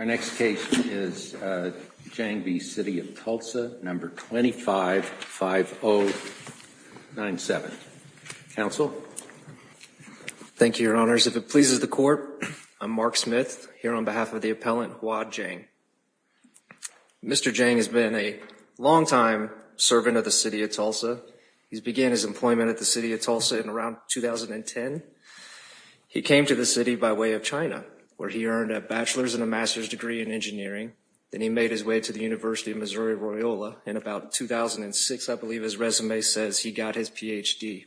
Our next case is Jiang v. City of Tulsa, number 25-5097. Counsel? Thank you, your honors. If it pleases the court, I'm Mark Smith, here on behalf of the appellant Hua Jiang. Mr. Jiang has been a long-time servant of the City of Tulsa. He began his employment at the City of Tulsa in around 2010. He came to the city by way of China, where he earned a bachelor's and a master's degree in engineering. Then he made his way to the University of Missouri-Royola in about 2006. I believe his resume says he got his Ph.D.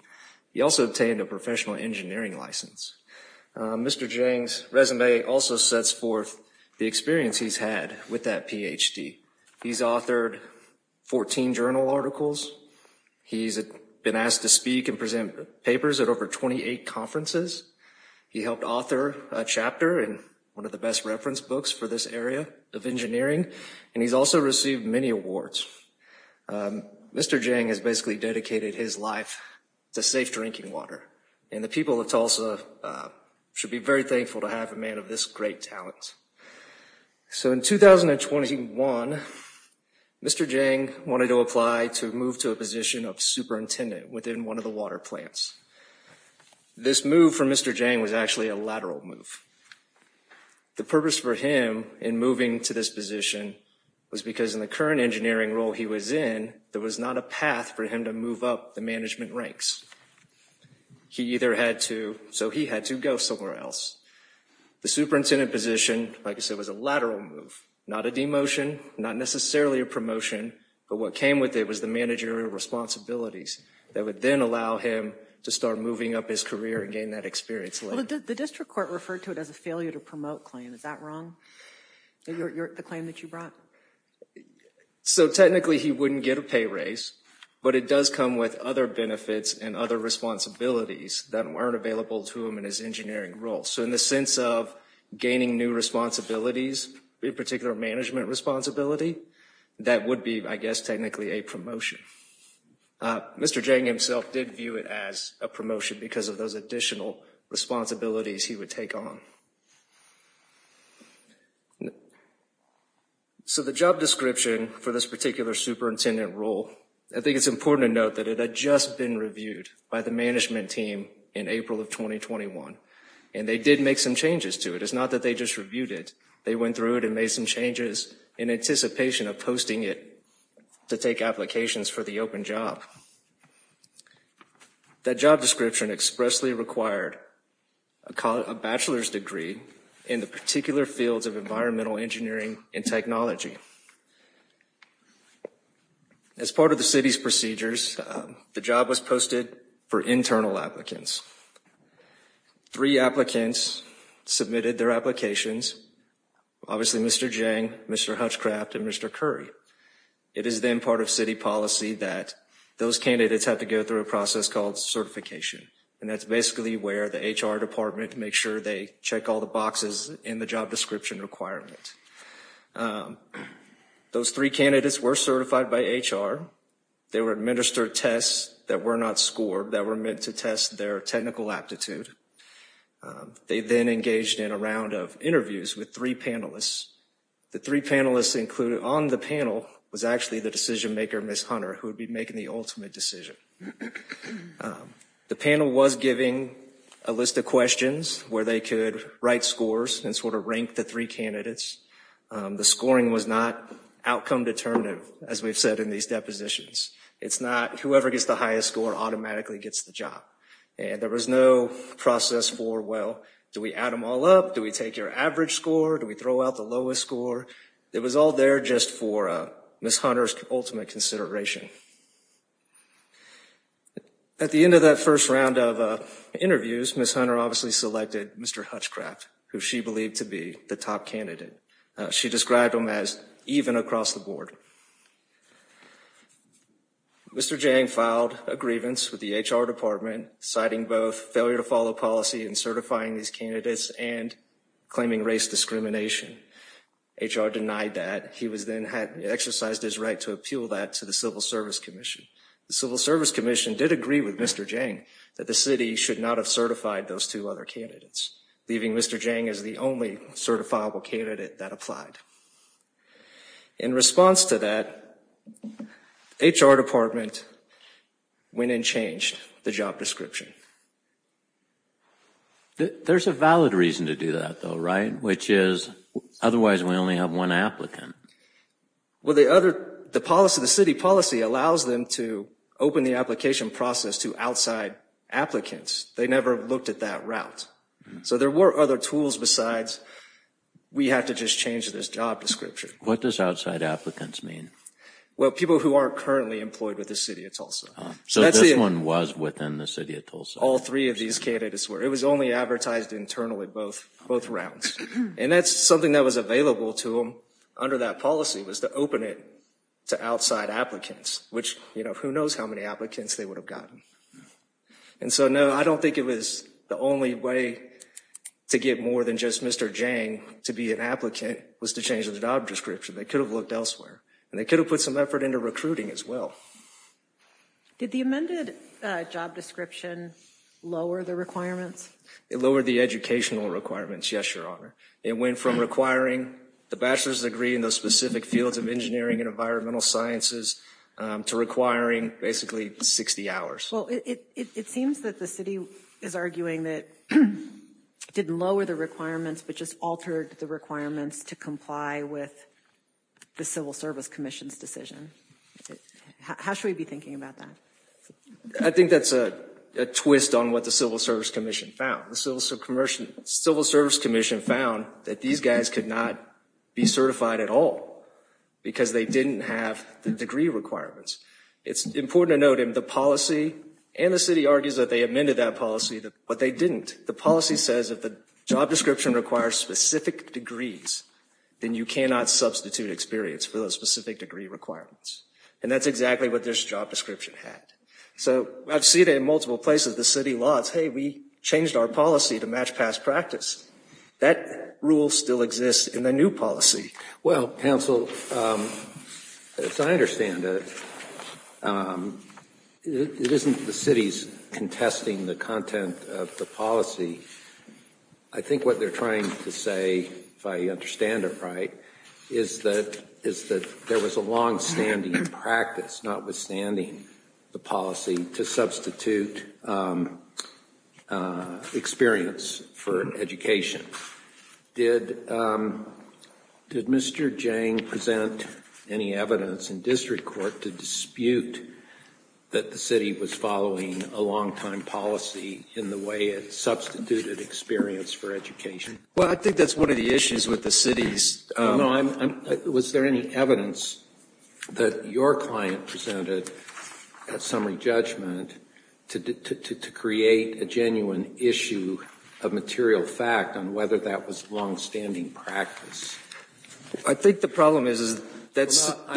He also obtained a professional engineering license. Mr. Jiang's resume also sets forth the experience he's had with that Ph.D. He's authored 14 journal articles. He's been asked to speak and present papers at over 28 conferences. He helped author a chapter in one of the best reference books for this area of engineering, and he's also received many awards. Mr. Jiang has basically dedicated his life to safe drinking water, and the people of Tulsa should be very thankful to have a man of this great talent. So in 2021, Mr. Jiang wanted to apply to move to a position of superintendent within one of the water plants. This move for Mr. Jiang was actually a lateral move. The purpose for him in moving to this position was because in the current engineering role he was in, there was not a path for him to move up the management ranks. He either had to, so he had to go somewhere else. The superintendent position, like I said, was a lateral move, not a demotion, not necessarily a promotion, but what came with it was the managerial responsibilities that would then allow him to start moving up his career and gain that experience later. The district court referred to it as a failure to promote claim. Is that wrong? The claim that you brought? So technically he wouldn't get a pay raise, but it does come with other benefits and other responsibilities that weren't available to him in his engineering role. So in the sense of gaining new responsibilities, in particular management responsibility, that would be, I guess, technically a promotion. Mr. Jiang himself did view it as a promotion because of those additional responsibilities he would take on. So the job description for this particular superintendent role, I think it's important to note that it had just been reviewed by the management team in April of 2021, and they did make some changes to it. It's not that they just reviewed it. They went through it and made some changes in anticipation of posting it to take applications for the open job. That job description expressly required a bachelor's degree in the particular fields of environmental engineering and technology. As part of the city's procedures, the job was posted for internal applicants. Three applicants submitted their applications, obviously Mr. Jiang, Mr. Hutchcraft, and Mr. Curry. It is then part of city policy that those candidates have to go through a process called certification, and that's basically where the HR department makes sure they check all the boxes in the job description requirement. Those three candidates were certified by HR. They were administered tests that were not scored, that were meant to test their technical aptitude. They then engaged in a round of interviews with three panelists. The three panelists included on the panel was actually the decision maker, Ms. Hunter, who would be making the ultimate decision. The panel was given a list of questions where they could write scores and sort of rank the three candidates. The scoring was not outcome determinative, as we've said in these depositions. It's not whoever gets the highest score automatically gets the job, and there was no process for, well, do we add them all up? Do we take your average score? Do we throw out the lowest score? It was all there just for Ms. Hunter's ultimate consideration. At the end of that first round of interviews, Ms. Hunter obviously selected Mr. Hutchcraft, who she believed to be the top candidate. She described him as even across the board. Mr. Jang filed a grievance with the HR department, citing both failure to follow policy and certifying these candidates and claiming race discrimination. HR denied that. He was then had exercised his right to appeal that to the Civil Service Commission. The Civil Service Commission did agree with Mr. Jang that the city should not have certified those two other candidates, leaving Mr. Jang as the only certifiable candidate that applied. In response to that, HR department went and changed the job description. There's a valid reason to do that though, right? Which is, otherwise we only have one applicant. Well, the other, the policy, the city policy allows them to open the application process to outside applicants. They never looked at that route. So there were other tools besides, we have to just change this job description. What does outside applicants mean? Well, people who aren't currently employed with the City of Tulsa. So this one was within the City of Tulsa? All three of these candidates were. It was only advertised internally, both rounds. And that's something that was available to them under that policy, was to open it to outside applicants, which, you know, who knows how many applicants they would have gotten. And so no, I don't think it was the only way to get more than just Mr. Jang to be an applicant, was to change the job description. They could have looked elsewhere and they could have put some effort into recruiting as well. Did the amended job description lower the requirements? It lowered the educational requirements, yes, your honor. It went from requiring the bachelor's degree in those specific fields of engineering and environmental sciences to requiring basically 60 hours. Well, it seems that the city is arguing that it didn't lower the requirements, but just altered the requirements to comply with the Civil Service Commission's decision. How should we be thinking about that? I think that's a twist on what the Civil Service Commission found. The Civil Service Commission found that these guys could not be certified at all because they didn't have the degree requirements. It's important to note in the policy, and the city argues that they amended that policy, but they didn't. The policy says if the job description requires specific degrees, then you cannot substitute experience for those specific degree requirements. And that's exactly what this job description had. So I've seen it in multiple places, the city laws, hey, we changed our policy to match past practice. That rule still exists in the new policy. Well, counsel, as I understand it, it isn't the city's contesting the content of the policy. I think what they're trying to say, if I understand it right, is that there was a longstanding practice, notwithstanding the policy, to substitute experience for education. Did Mr. Jang present any evidence in district court to dispute that the city was following a longtime policy in the way it substituted experience for education? Well, I think that's one of the issues with the city's... Was there any evidence that your client presented at summary judgment to create a genuine issue of material fact on whether that was longstanding practice? I think the problem is... I'm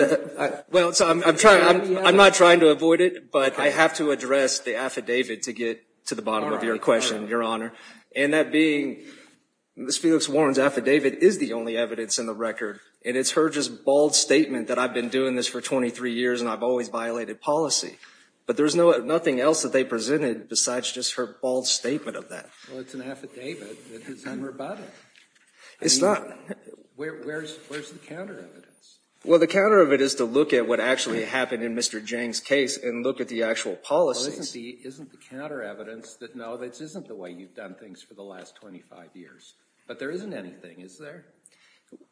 not trying to avoid it, but I have to address the affidavit to get to the bottom of your question, Your Honor. And that being, Ms. Felix-Warren's affidavit is the only evidence in the record, and it's her just bald statement that I've been doing this for 23 years and I've always violated policy. But there's nothing else that they presented besides just her bald statement of that. Well, it's an affidavit. It's unrebutted. It's not. Where's the counter evidence? Well, the counter of it is to look at what actually happened in Mr. Jang's case and look at the actual policies. Well, isn't the counter evidence that, no, this isn't the way you've done things for the last 25 years? But there isn't anything, is there?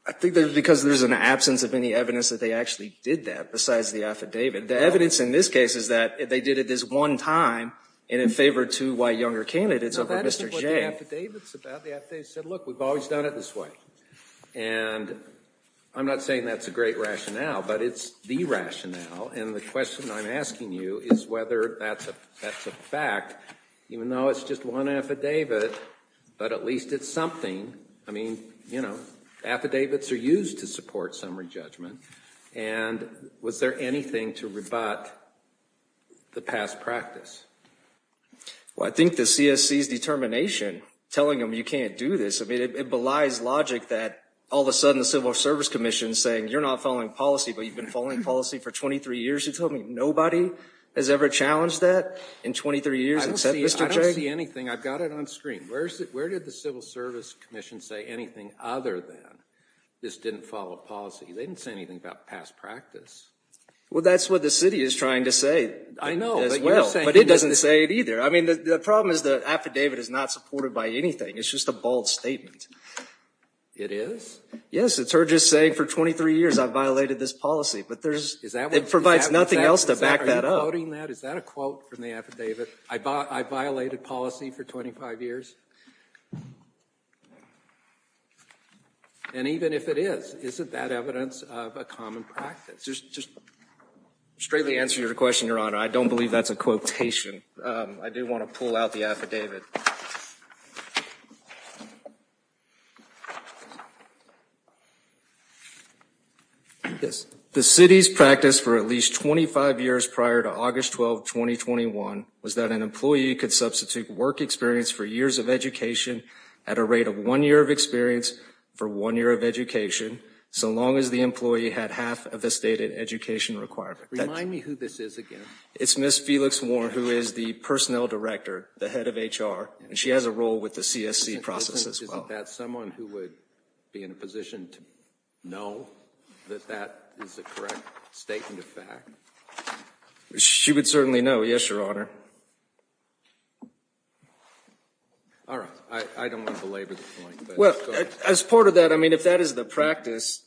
I think that's because there's an absence of any evidence that they actually did that, besides the affidavit. The evidence in this case is that they did it this one time, and in favor of two white younger candidates over Mr. Jang. No, that isn't what the affidavit's about. The affidavit said, look, we've always done it this way. And I'm not saying that's a great rationale, but it's the rationale. And the question I'm asking you is whether that's a fact, even though it's just one affidavit, but at least it's something. I mean, you know, affidavits are used to support summary judgment. And was there anything to rebut the past practice? Well, I think the CSC's determination, telling them you can't do this. I mean, it belies logic that all of a sudden the Civil Service Commission is saying, you're not following policy, but you've been following policy for 23 years. You told me nobody has ever challenged that in 23 years except Mr. Jang? I don't see anything. I've got it on screen. Where did the Civil Service Commission say anything other than this didn't follow policy? They didn't say anything about past practice. Well, that's what the city is trying to say. I know, but you're saying- I mean, the problem is the affidavit is not supported by anything. It's just a bold statement. It is? Yes, it's her just saying for 23 years I've violated this policy, but there's- Is that what- It provides nothing else to back that up. Are you quoting that? Is that a quote from the affidavit? I violated policy for 25 years? And even if it is, isn't that evidence of a common practice? Just straightly answer your question, Your Honor. I don't believe that's a quotation. I do want to pull out the affidavit. The city's practice for at least 25 years prior to August 12, 2021, was that an employee could substitute work experience for years of education at a rate of one year of experience for one year of education, so long as the employee had half of the stated education requirement. Remind me who this is again. It's Ms. Felix Warren, who is the personnel director, the head of HR, and she has a role with the CSC process as well. Isn't that someone who would be in a position to know that that is a correct statement of fact? She would certainly know, yes, Your Honor. All right. I don't want to belabor the point, but- Well, as part of that, I mean, if that is the practice,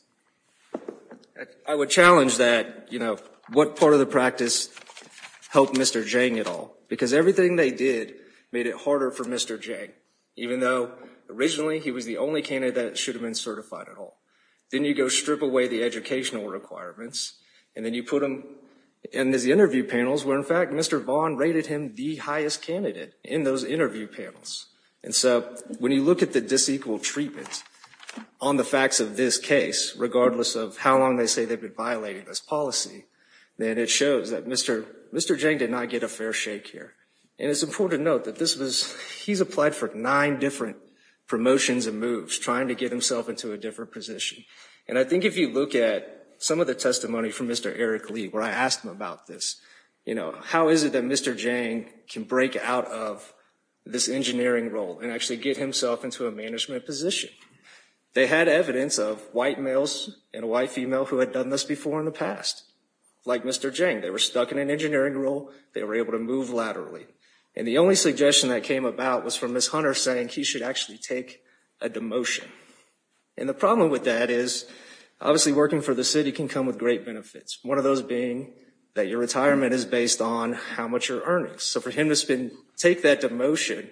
I would challenge that, you know, what part of the practice helped Mr. Jiang at all, because everything they did made it harder for Mr. Jiang, even though originally he was the only candidate that should have been certified at all. Then you go strip away the educational requirements, and then you put him in these interview panels where, in fact, Mr. Vaughn rated him the highest candidate in those interview panels. And so when you look at the disequal treatment on the facts of this case, regardless of how long they say they've been violating this policy, then it shows that Mr. Jiang did not get a fair shake here. And it's important to note that this was- he's applied for nine different promotions and moves, trying to get himself into a different position. And I think if you look at some of the testimony from Mr. Eric Lee, where I asked him about this, you know, this engineering role and actually get himself into a management position. They had evidence of white males and a white female who had done this before in the past. Like Mr. Jiang, they were stuck in an engineering role. They were able to move laterally. And the only suggestion that came about was from Ms. Hunter saying he should actually take a demotion. And the problem with that is, obviously, working for the city can come with great benefits. One of those being that your retirement is based on how much you're earning. So for him to take that demotion,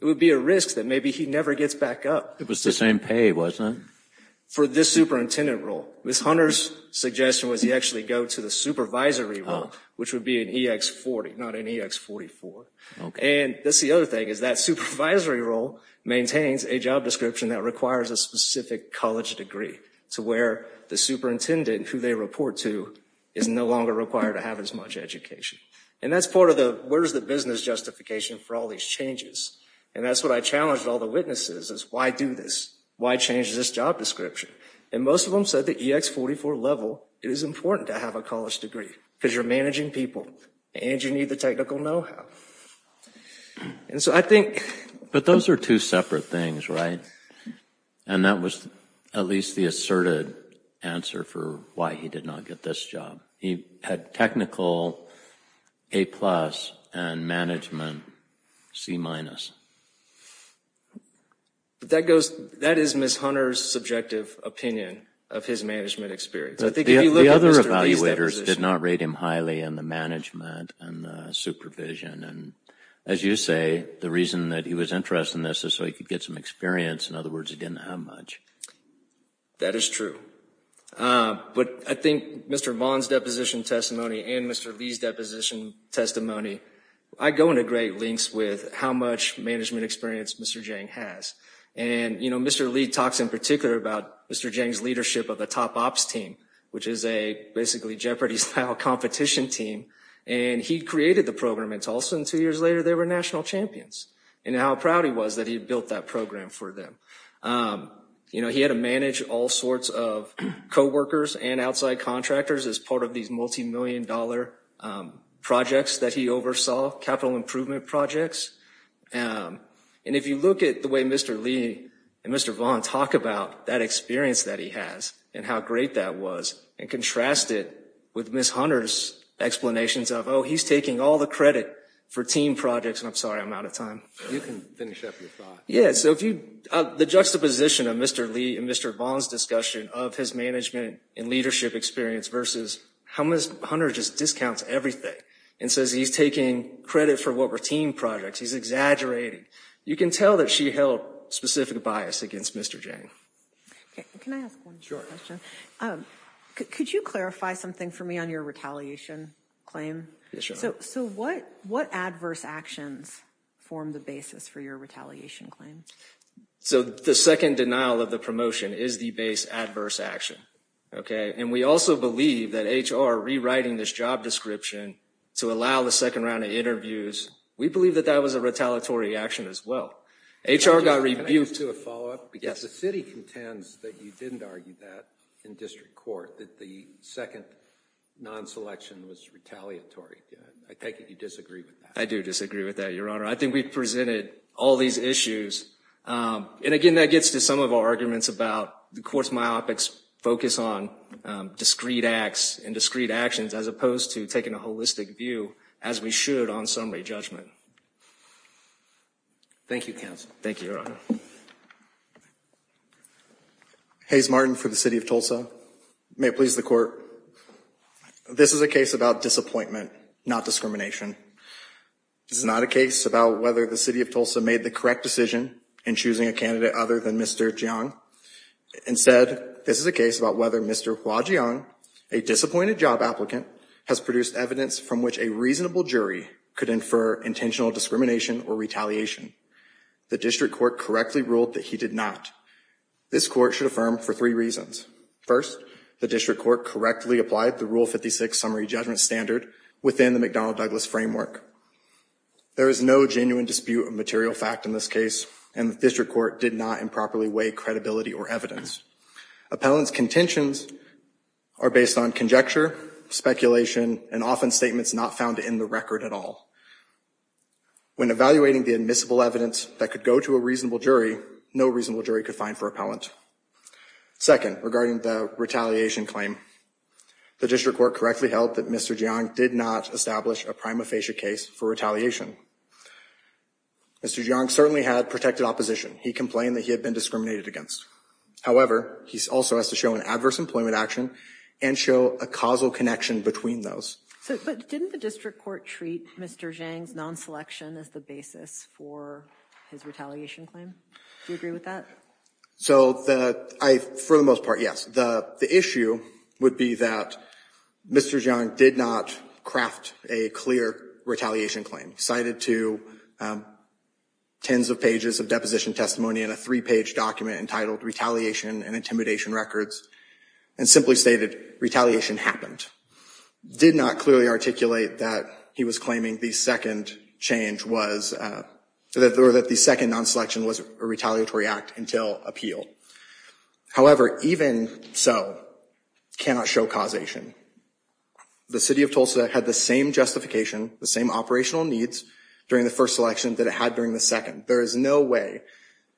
it would be a risk that maybe he never gets back up. It was the same pay, wasn't it? For this superintendent role. Ms. Hunter's suggestion was he actually go to the supervisory role, which would be an EX40, not an EX44. And that's the other thing, is that supervisory role maintains a job description that requires a specific college degree to where the superintendent, who they report to, is no longer required to have as much education. And that's part of the, where's the business justification for all these changes? And that's what I challenged all the witnesses, is why do this? Why change this job description? And most of them said the EX44 level, it is important to have a college degree because you're managing people and you need the technical know-how. And so I think... But those are two separate things, right? And that was at least the asserted answer for why he did not get this job. He had technical A-plus and management C-minus. That is Ms. Hunter's subjective opinion of his management experience. But the other evaluators did not rate him highly in the management and the supervision. And as you say, the reason that he was interested in this is so he could get some experience. In other words, he didn't have much. That is true. But I think Mr. Vaughn's deposition testimony and Mr. Lee's deposition testimony, I go into great links with how much management experience Mr. Jang has. And Mr. Lee talks in particular about Mr. Jang's leadership of the Top Ops team, which is a basically Jeopardy-style competition team. And he created the program in Tulsa and two years later, they were national champions. And how proud he was that he built that program for them. You know, he had to manage all sorts of co-workers and outside contractors as part of these multi-million dollar projects that he oversaw, capital improvement projects. And if you look at the way Mr. Lee and Mr. Vaughn talk about that experience that he has and how great that was and contrast it with Ms. Hunter's explanations of, oh, he's taking all the credit for team projects. And I'm sorry, I'm out of time. You can finish up your thought. Yeah, so if you, the juxtaposition of Mr. Lee and Mr. Vaughn's discussion of his management and leadership experience versus how Ms. Hunter just discounts everything and says he's taking credit for what were team projects, he's exaggerating. You can tell that she held specific bias against Mr. Jang. Okay, can I ask one more question? Could you clarify something for me on your retaliation claim? So what adverse actions form the basis for your retaliation claim? So the second denial of the promotion is the base adverse action, okay? And we also believe that HR rewriting this job description to allow the second round of interviews, we believe that that was a retaliatory action as well. HR got reviewed- Can I just do a follow up? Yes. Because the city contends that you didn't argue that in district court, that the second non-selection was retaliatory. I take it you disagree with that. I do disagree with that, Your Honor. I think we've presented all these issues. And again, that gets to some of our arguments about the court's myopics focus on discrete acts and discrete actions as opposed to taking a holistic view as we should on summary judgment. Thank you, counsel. Thank you, Your Honor. Hayes Martin for the City of Tulsa. May it please the court. This is a case about disappointment, not discrimination. This is not a case about whether the City of Tulsa made the correct decision in choosing a candidate other than Mr. Jiang. Instead, this is a case about whether Mr. Hua Jiang, a disappointed job applicant, has produced evidence from which a reasonable jury could infer intentional discrimination or retaliation. The district court correctly ruled that he did not. This court should affirm for three reasons. First, the district court correctly applied the Rule 56 summary judgment standard within the McDonnell-Douglas framework. There is no genuine dispute of material fact in this case and the district court did not improperly weigh credibility or evidence. Appellant's contentions are based on conjecture, speculation, and often statements not found in the record at all. When evaluating the admissible evidence that could go to a reasonable jury, no reasonable jury could find for appellant. Second, regarding the retaliation claim, the district court correctly held that Mr. Jiang did not establish a prima facie case for retaliation. Mr. Jiang certainly had protected opposition. He complained that he had been discriminated against. However, he also has to show an adverse employment action and show a causal connection between those. But didn't the district court treat Mr. Jiang's non-selection as the basis for his retaliation claim? Do you agree with that? So the, I, for the most part, yes. The issue would be that Mr. Jiang did not craft a clear retaliation claim. Cited to tens of pages of deposition testimony in a three-page document entitled Retaliation and Intimidation Records and simply stated, retaliation happened. Did not clearly articulate that he was claiming the second change was, that the second non-selection was a retaliatory act until appeal. However, even so, cannot show causation. The city of Tulsa had the same justification, the same operational needs during the first election that it had during the second. There is no way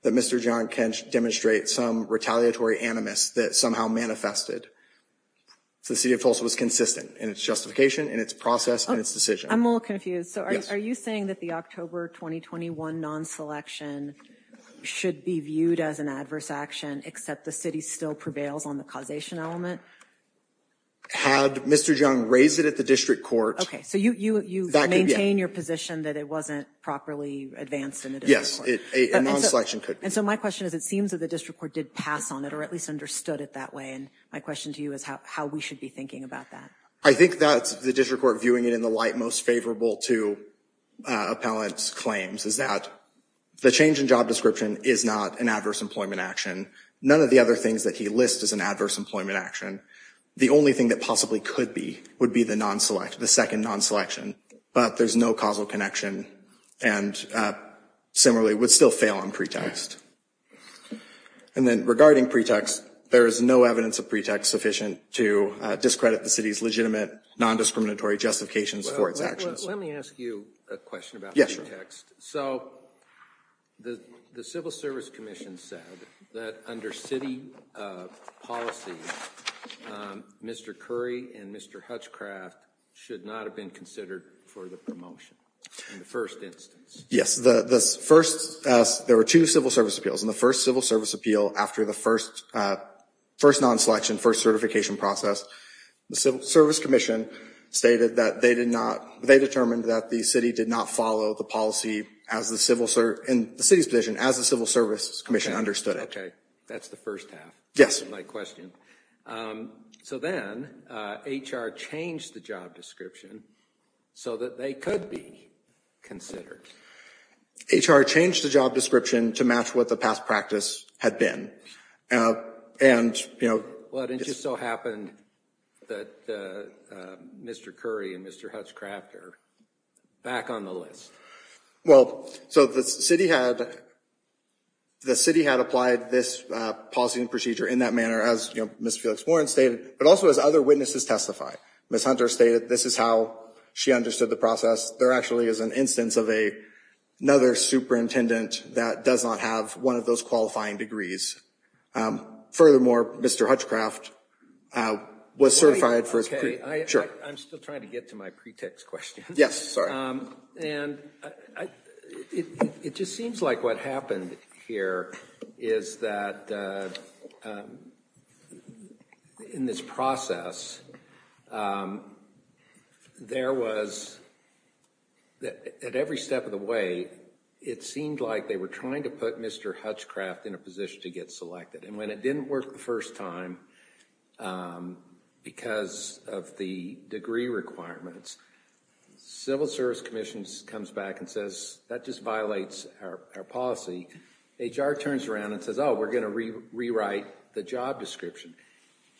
that Mr. Jiang can demonstrate some retaliatory animus that somehow manifested. So the city of Tulsa was consistent in its justification, in its process, in its decision. I'm a little confused. So are you saying that the October 2021 non-selection should be viewed as an adverse action, except the city still prevails on the causation element? Had Mr. Jiang raised it at the district court. Okay, so you maintain your position that it wasn't properly advanced in the district court. Yes, a non-selection could be. And so my question is, it seems that the district court did pass on it or at least understood it that way. And my question to you is how we should be thinking about that. I think that's the district court viewing it in the light most favorable to appellant's claims is that the change in job description is not an adverse employment action. None of the other things that he lists is an adverse employment action. The only thing that possibly could be would be the second non-selection, but there's no causal connection and similarly would still fail on pretext. And then regarding pretext, there is no evidence of pretext sufficient to discredit the city's legitimate non-discriminatory justifications for its actions. Let me ask you a question about the pretext. So the Civil Service Commission said that under city policy, Mr. Curry and Mr. Hutchcraft should not have been considered for the promotion in the first instance. Yes, there were two civil service appeals and the first civil service appeal after the first non-selection, first certification process, the Civil Service Commission stated that they determined that the city did not follow the policy in the city's position as the Civil Service Commission understood it. Okay, that's the first half of my question. So then HR changed the job description so that they could be considered. HR changed the job description to match what the past practice had been. Well, it just so happened that Mr. Curry and Mr. Hutchcraft are back on the list. Well, so the city had applied this policy and procedure in that manner as Ms. Felix Warren stated, but also as other witnesses testified. Ms. Hunter stated this is how she understood the process. There actually is an instance of another superintendent that does not have one of those qualifying degrees. Furthermore, Mr. Hutchcraft was certified for his pre, sure. I'm still trying to get to my pretext question. Yes, sorry. And it just seems like what happened here is that in this process, there was at every step of the way, it seemed like they were trying to put Mr. Hutchcraft in a position to get selected. And when it didn't work the first time because of the degree requirements, Civil Service Commission comes back and says, that just violates our policy. HR turns around and says, oh, we're going to rewrite the job description.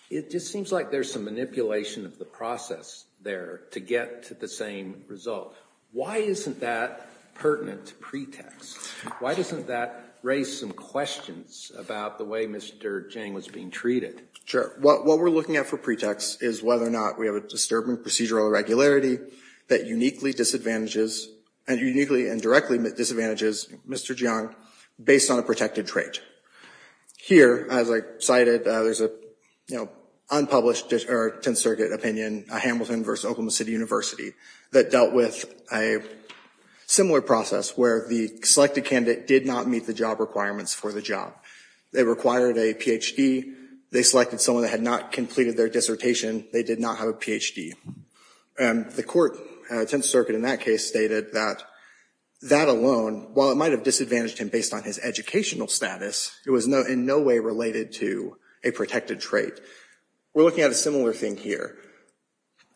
It just seems like there's some manipulation of the process there to get to the same result. Why isn't that pertinent to pretext? Why doesn't that raise some questions about the way Mr. Jang was being treated? What we're looking at for pretext is whether or not we have a disturbing procedural irregularity that uniquely disadvantages, and uniquely and directly disadvantages Mr. Jang based on a protected trait. Here, as I cited, there's an unpublished or 10th Circuit opinion, Hamilton versus Oklahoma City University, that dealt with a similar process where the selected candidate did not meet the job requirements for the job. They required a PhD. They selected someone that had not completed their dissertation. They did not have a PhD. The court, 10th Circuit in that case, stated that that alone, while it might have disadvantaged him based on his educational status, it was in no way related to a protected trait. We're looking at a similar thing here.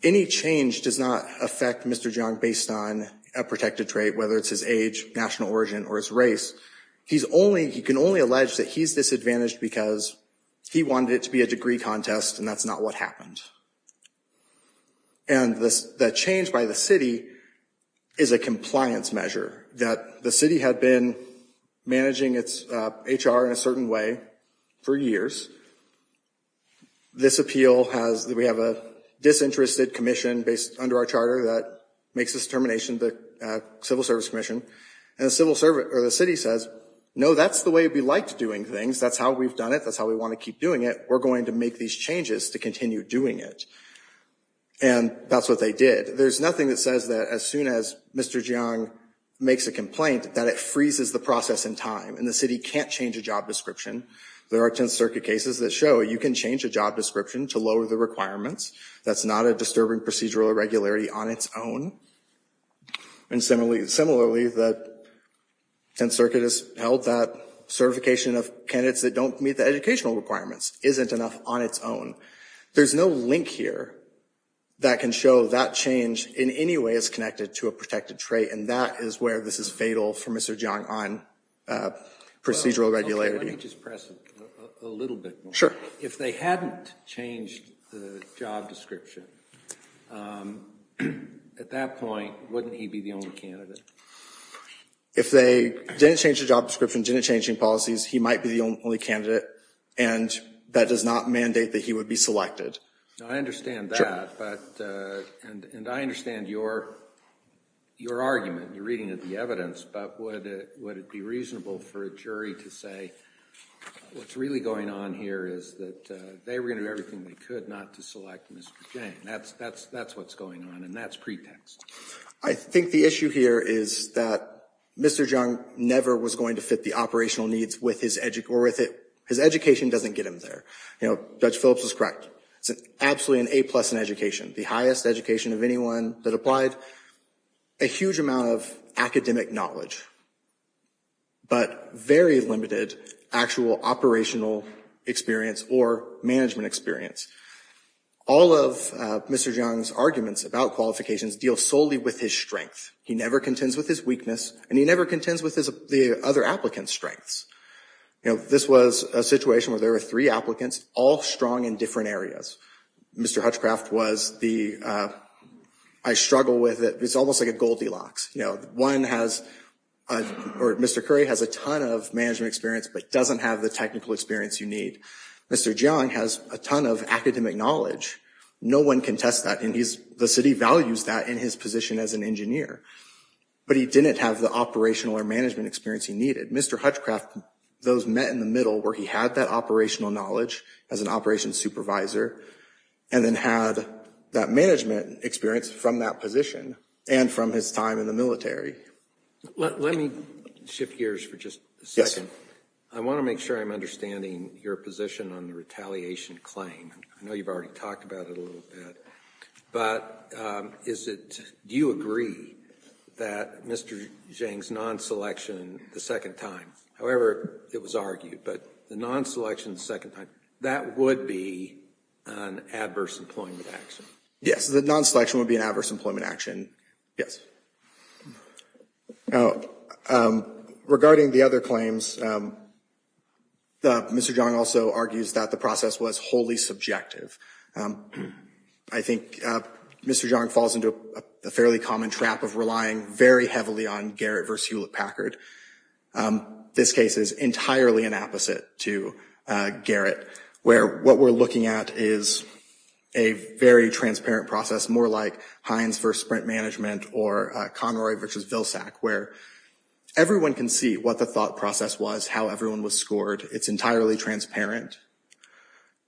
Any change does not affect Mr. Jang based on a protected trait, whether it's his age, national origin, or his race. He can only allege that he's disadvantaged because he wanted it to be a degree contest, and that's not what happened. And the change by the city is a compliance measure, that the city had been managing its HR in a certain way for years. This appeal has, we have a disinterested commission based under our charter that makes this determination, the Civil Service Commission. And the city says, no, that's the way we liked doing things. That's how we've done it. That's how we want to keep doing it. We're going to make these changes to continue doing it. And that's what they did. There's nothing that says that as soon as Mr. Jang makes a complaint that it freezes the process in time, and the city can't change a job description. There are 10th Circuit cases that show you can change a job description to lower the requirements. That's not a disturbing procedural irregularity on its own. And similarly, the 10th Circuit has held that certification of candidates that don't meet the educational requirements isn't enough on its own. There's no link here that can show that change in any way is connected to a protected trait. And that is where this is fatal for Mr. Jang on procedural irregularity. Let me just press it a little bit more. Sure. If they hadn't changed the job description, at that point, wouldn't he be the only candidate? If they didn't change the job description and didn't change any policies, he might be the only candidate, and that does not mandate that he would be selected. Now, I understand that, and I understand your argument, your reading of the evidence, but would it be reasonable for a jury to say what's really going on here is that they were going to do everything they could not to select Mr. Jang. That's what's going on, and that's pretext. I think the issue here is that Mr. Jang never was going to fit the operational needs with his education. His education doesn't get him there. You know, Judge Phillips was correct. It's absolutely an A-plus in education, the highest education of anyone that applied, a huge amount of academic knowledge, but very limited actual operational experience or management experience. All of Mr. Jang's arguments about qualifications deal solely with his strength. He never contends with his weakness, and he never contends with the other applicants' strengths. You know, this was a situation where there were three applicants, all strong in different areas. Mr. Hutchcraft was the, I struggle with it. It's almost like a Goldilocks. You know, one has, or Mr. Curry has a ton of management experience, but doesn't have the technical experience you need. Mr. Jang has a ton of academic knowledge. No one can test that, and the city values that in his position as an engineer. But he didn't have the operational or management experience he needed. Mr. Hutchcraft, those met in the middle where he had that operational knowledge as an operations supervisor, and then had that management experience from that position and from his time in the military. Let me shift gears for just a second. I want to make sure I'm understanding your position on the retaliation claim. I know you've already talked about it a little bit, but is it, do you agree that Mr. Jang's non-selection the second time, however it was argued, but the non-selection the second time, that would be an adverse employment action? Yes, the non-selection would be an adverse employment action. Yes. Regarding the other claims, Mr. Jang also argues that the process was wholly subjective. I think Mr. Jang falls into a fairly common trap of relying very heavily on Garrett versus Hewlett-Packard. This case is entirely an opposite to Garrett, where what we're looking at is a very transparent process, more like Heinz versus Sprint Management or Conroy versus Vilsack, where everyone can see what the thought process was, how everyone was scored. It's entirely transparent.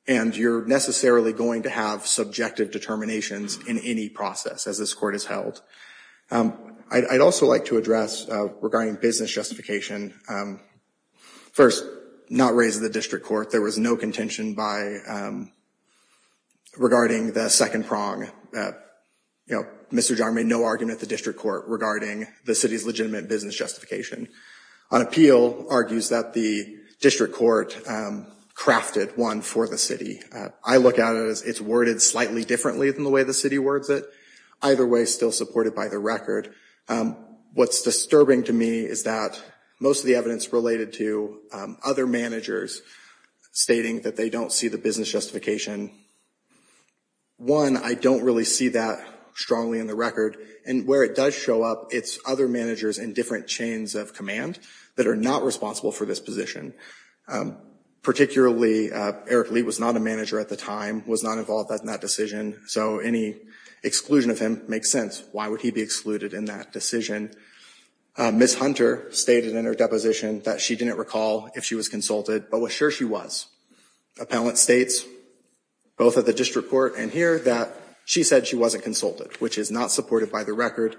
And you're necessarily going to have subjective determinations in any process as this court is held. I'd also like to address, regarding business justification, first, not raised in the district court, there was no contention by, regarding the second prong. Mr. Jang made no argument at the district court regarding the city's legitimate business justification. On appeal, argues that the district court crafted one for the city. I look at it as it's worded slightly differently than the way the city words it. Either way, still supported by the record. What's disturbing to me is that most of the evidence related to other managers stating that they don't see the business justification. One, I don't really see that strongly in the record. And where it does show up, it's other managers in different chains of command that are not responsible for this position. Particularly, Eric Lee was not a manager at the time, was not involved in that decision. So any exclusion of him makes sense. Why would he be excluded in that decision? Ms. Hunter stated in her deposition that she didn't recall if she was consulted, but was sure she was. Appellant states, both at the district court and here, that she said she wasn't consulted, which is not supported by the record.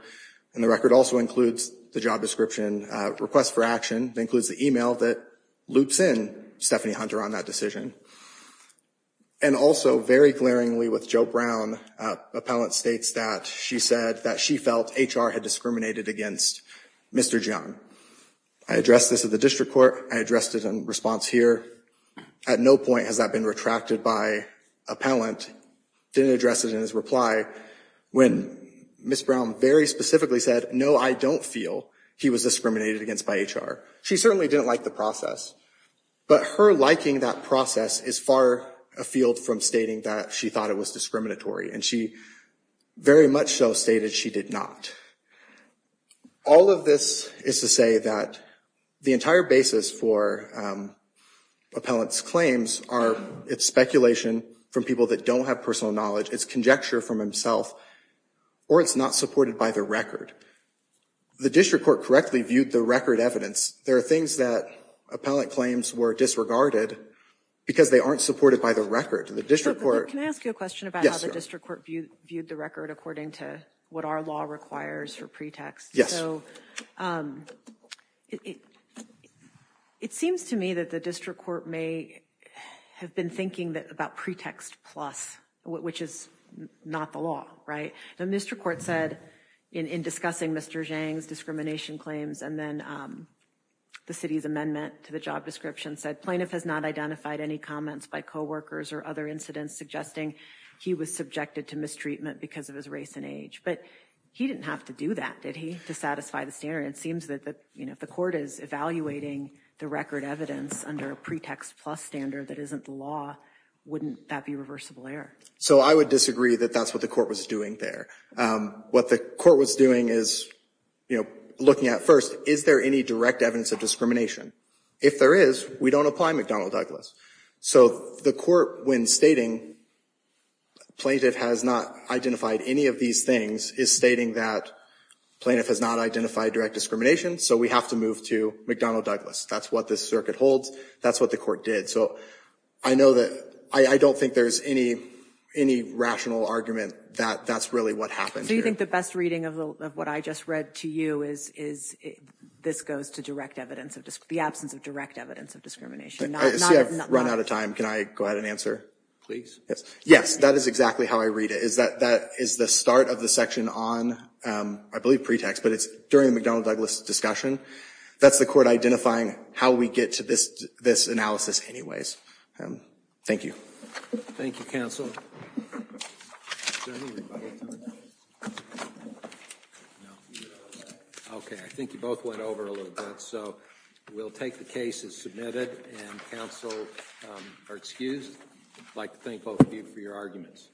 And the record also includes the job description request for action. It includes the email that loops in Stephanie Hunter on that decision. And also, very glaringly with Joe Brown, appellant states that she said that she felt HR had discriminated against Mr. Jung. I addressed this at the district court. I addressed it in response here. At no point has that been retracted by appellant. Didn't address it in his reply when Ms. Brown very specifically said, no, I don't feel he was discriminated against by HR. She certainly didn't like the process. But her liking that process is far afield from stating that she thought it was discriminatory. And she very much so stated she did not. All of this is to say that the entire basis for appellant's claims are it's speculation from people that don't have personal knowledge, it's conjecture from himself, or it's not supported by the record. The district court correctly viewed the record evidence. There are things that appellant claims were disregarded because they aren't supported by the record. And the district court- Can I ask you a question about how the district court viewed the record according to what our law requires for pretext? Yes. It seems to me that the district court may have been thinking about pretext plus, which is not the law, right? And Mr. Court said in discussing Mr. Jung's the city's amendment to the job description, said plaintiff has not identified any comments by coworkers or other incidents suggesting he was subjected to mistreatment because of his race and age. But he didn't have to do that, did he? To satisfy the standard. It seems that if the court is evaluating the record evidence under a pretext plus standard that isn't the law, wouldn't that be reversible error? So I would disagree that that's what the court was doing there. What the court was doing is looking at first, is there any direct evidence of discrimination? If there is, we don't apply McDonnell-Douglas. So the court, when stating plaintiff has not identified any of these things, is stating that plaintiff has not identified direct discrimination, so we have to move to McDonnell-Douglas. That's what this circuit holds. That's what the court did. So I don't think there's any rational argument that that's really what happened here. Do you think the best reading of what I just read to you is this goes to the absence of direct evidence of discrimination? See, I've run out of time. Can I go ahead and answer? Please. Yes. That is exactly how I read it. Is that is the start of the section on, I believe, pretext, but it's during the McDonnell-Douglas discussion. That's the court identifying how we get to this analysis anyways. Thank you. Thank you, counsel. OK, I think you both went over a little bit, so we'll take the case as submitted, and counsel are excused. I'd like to thank both of you for your arguments.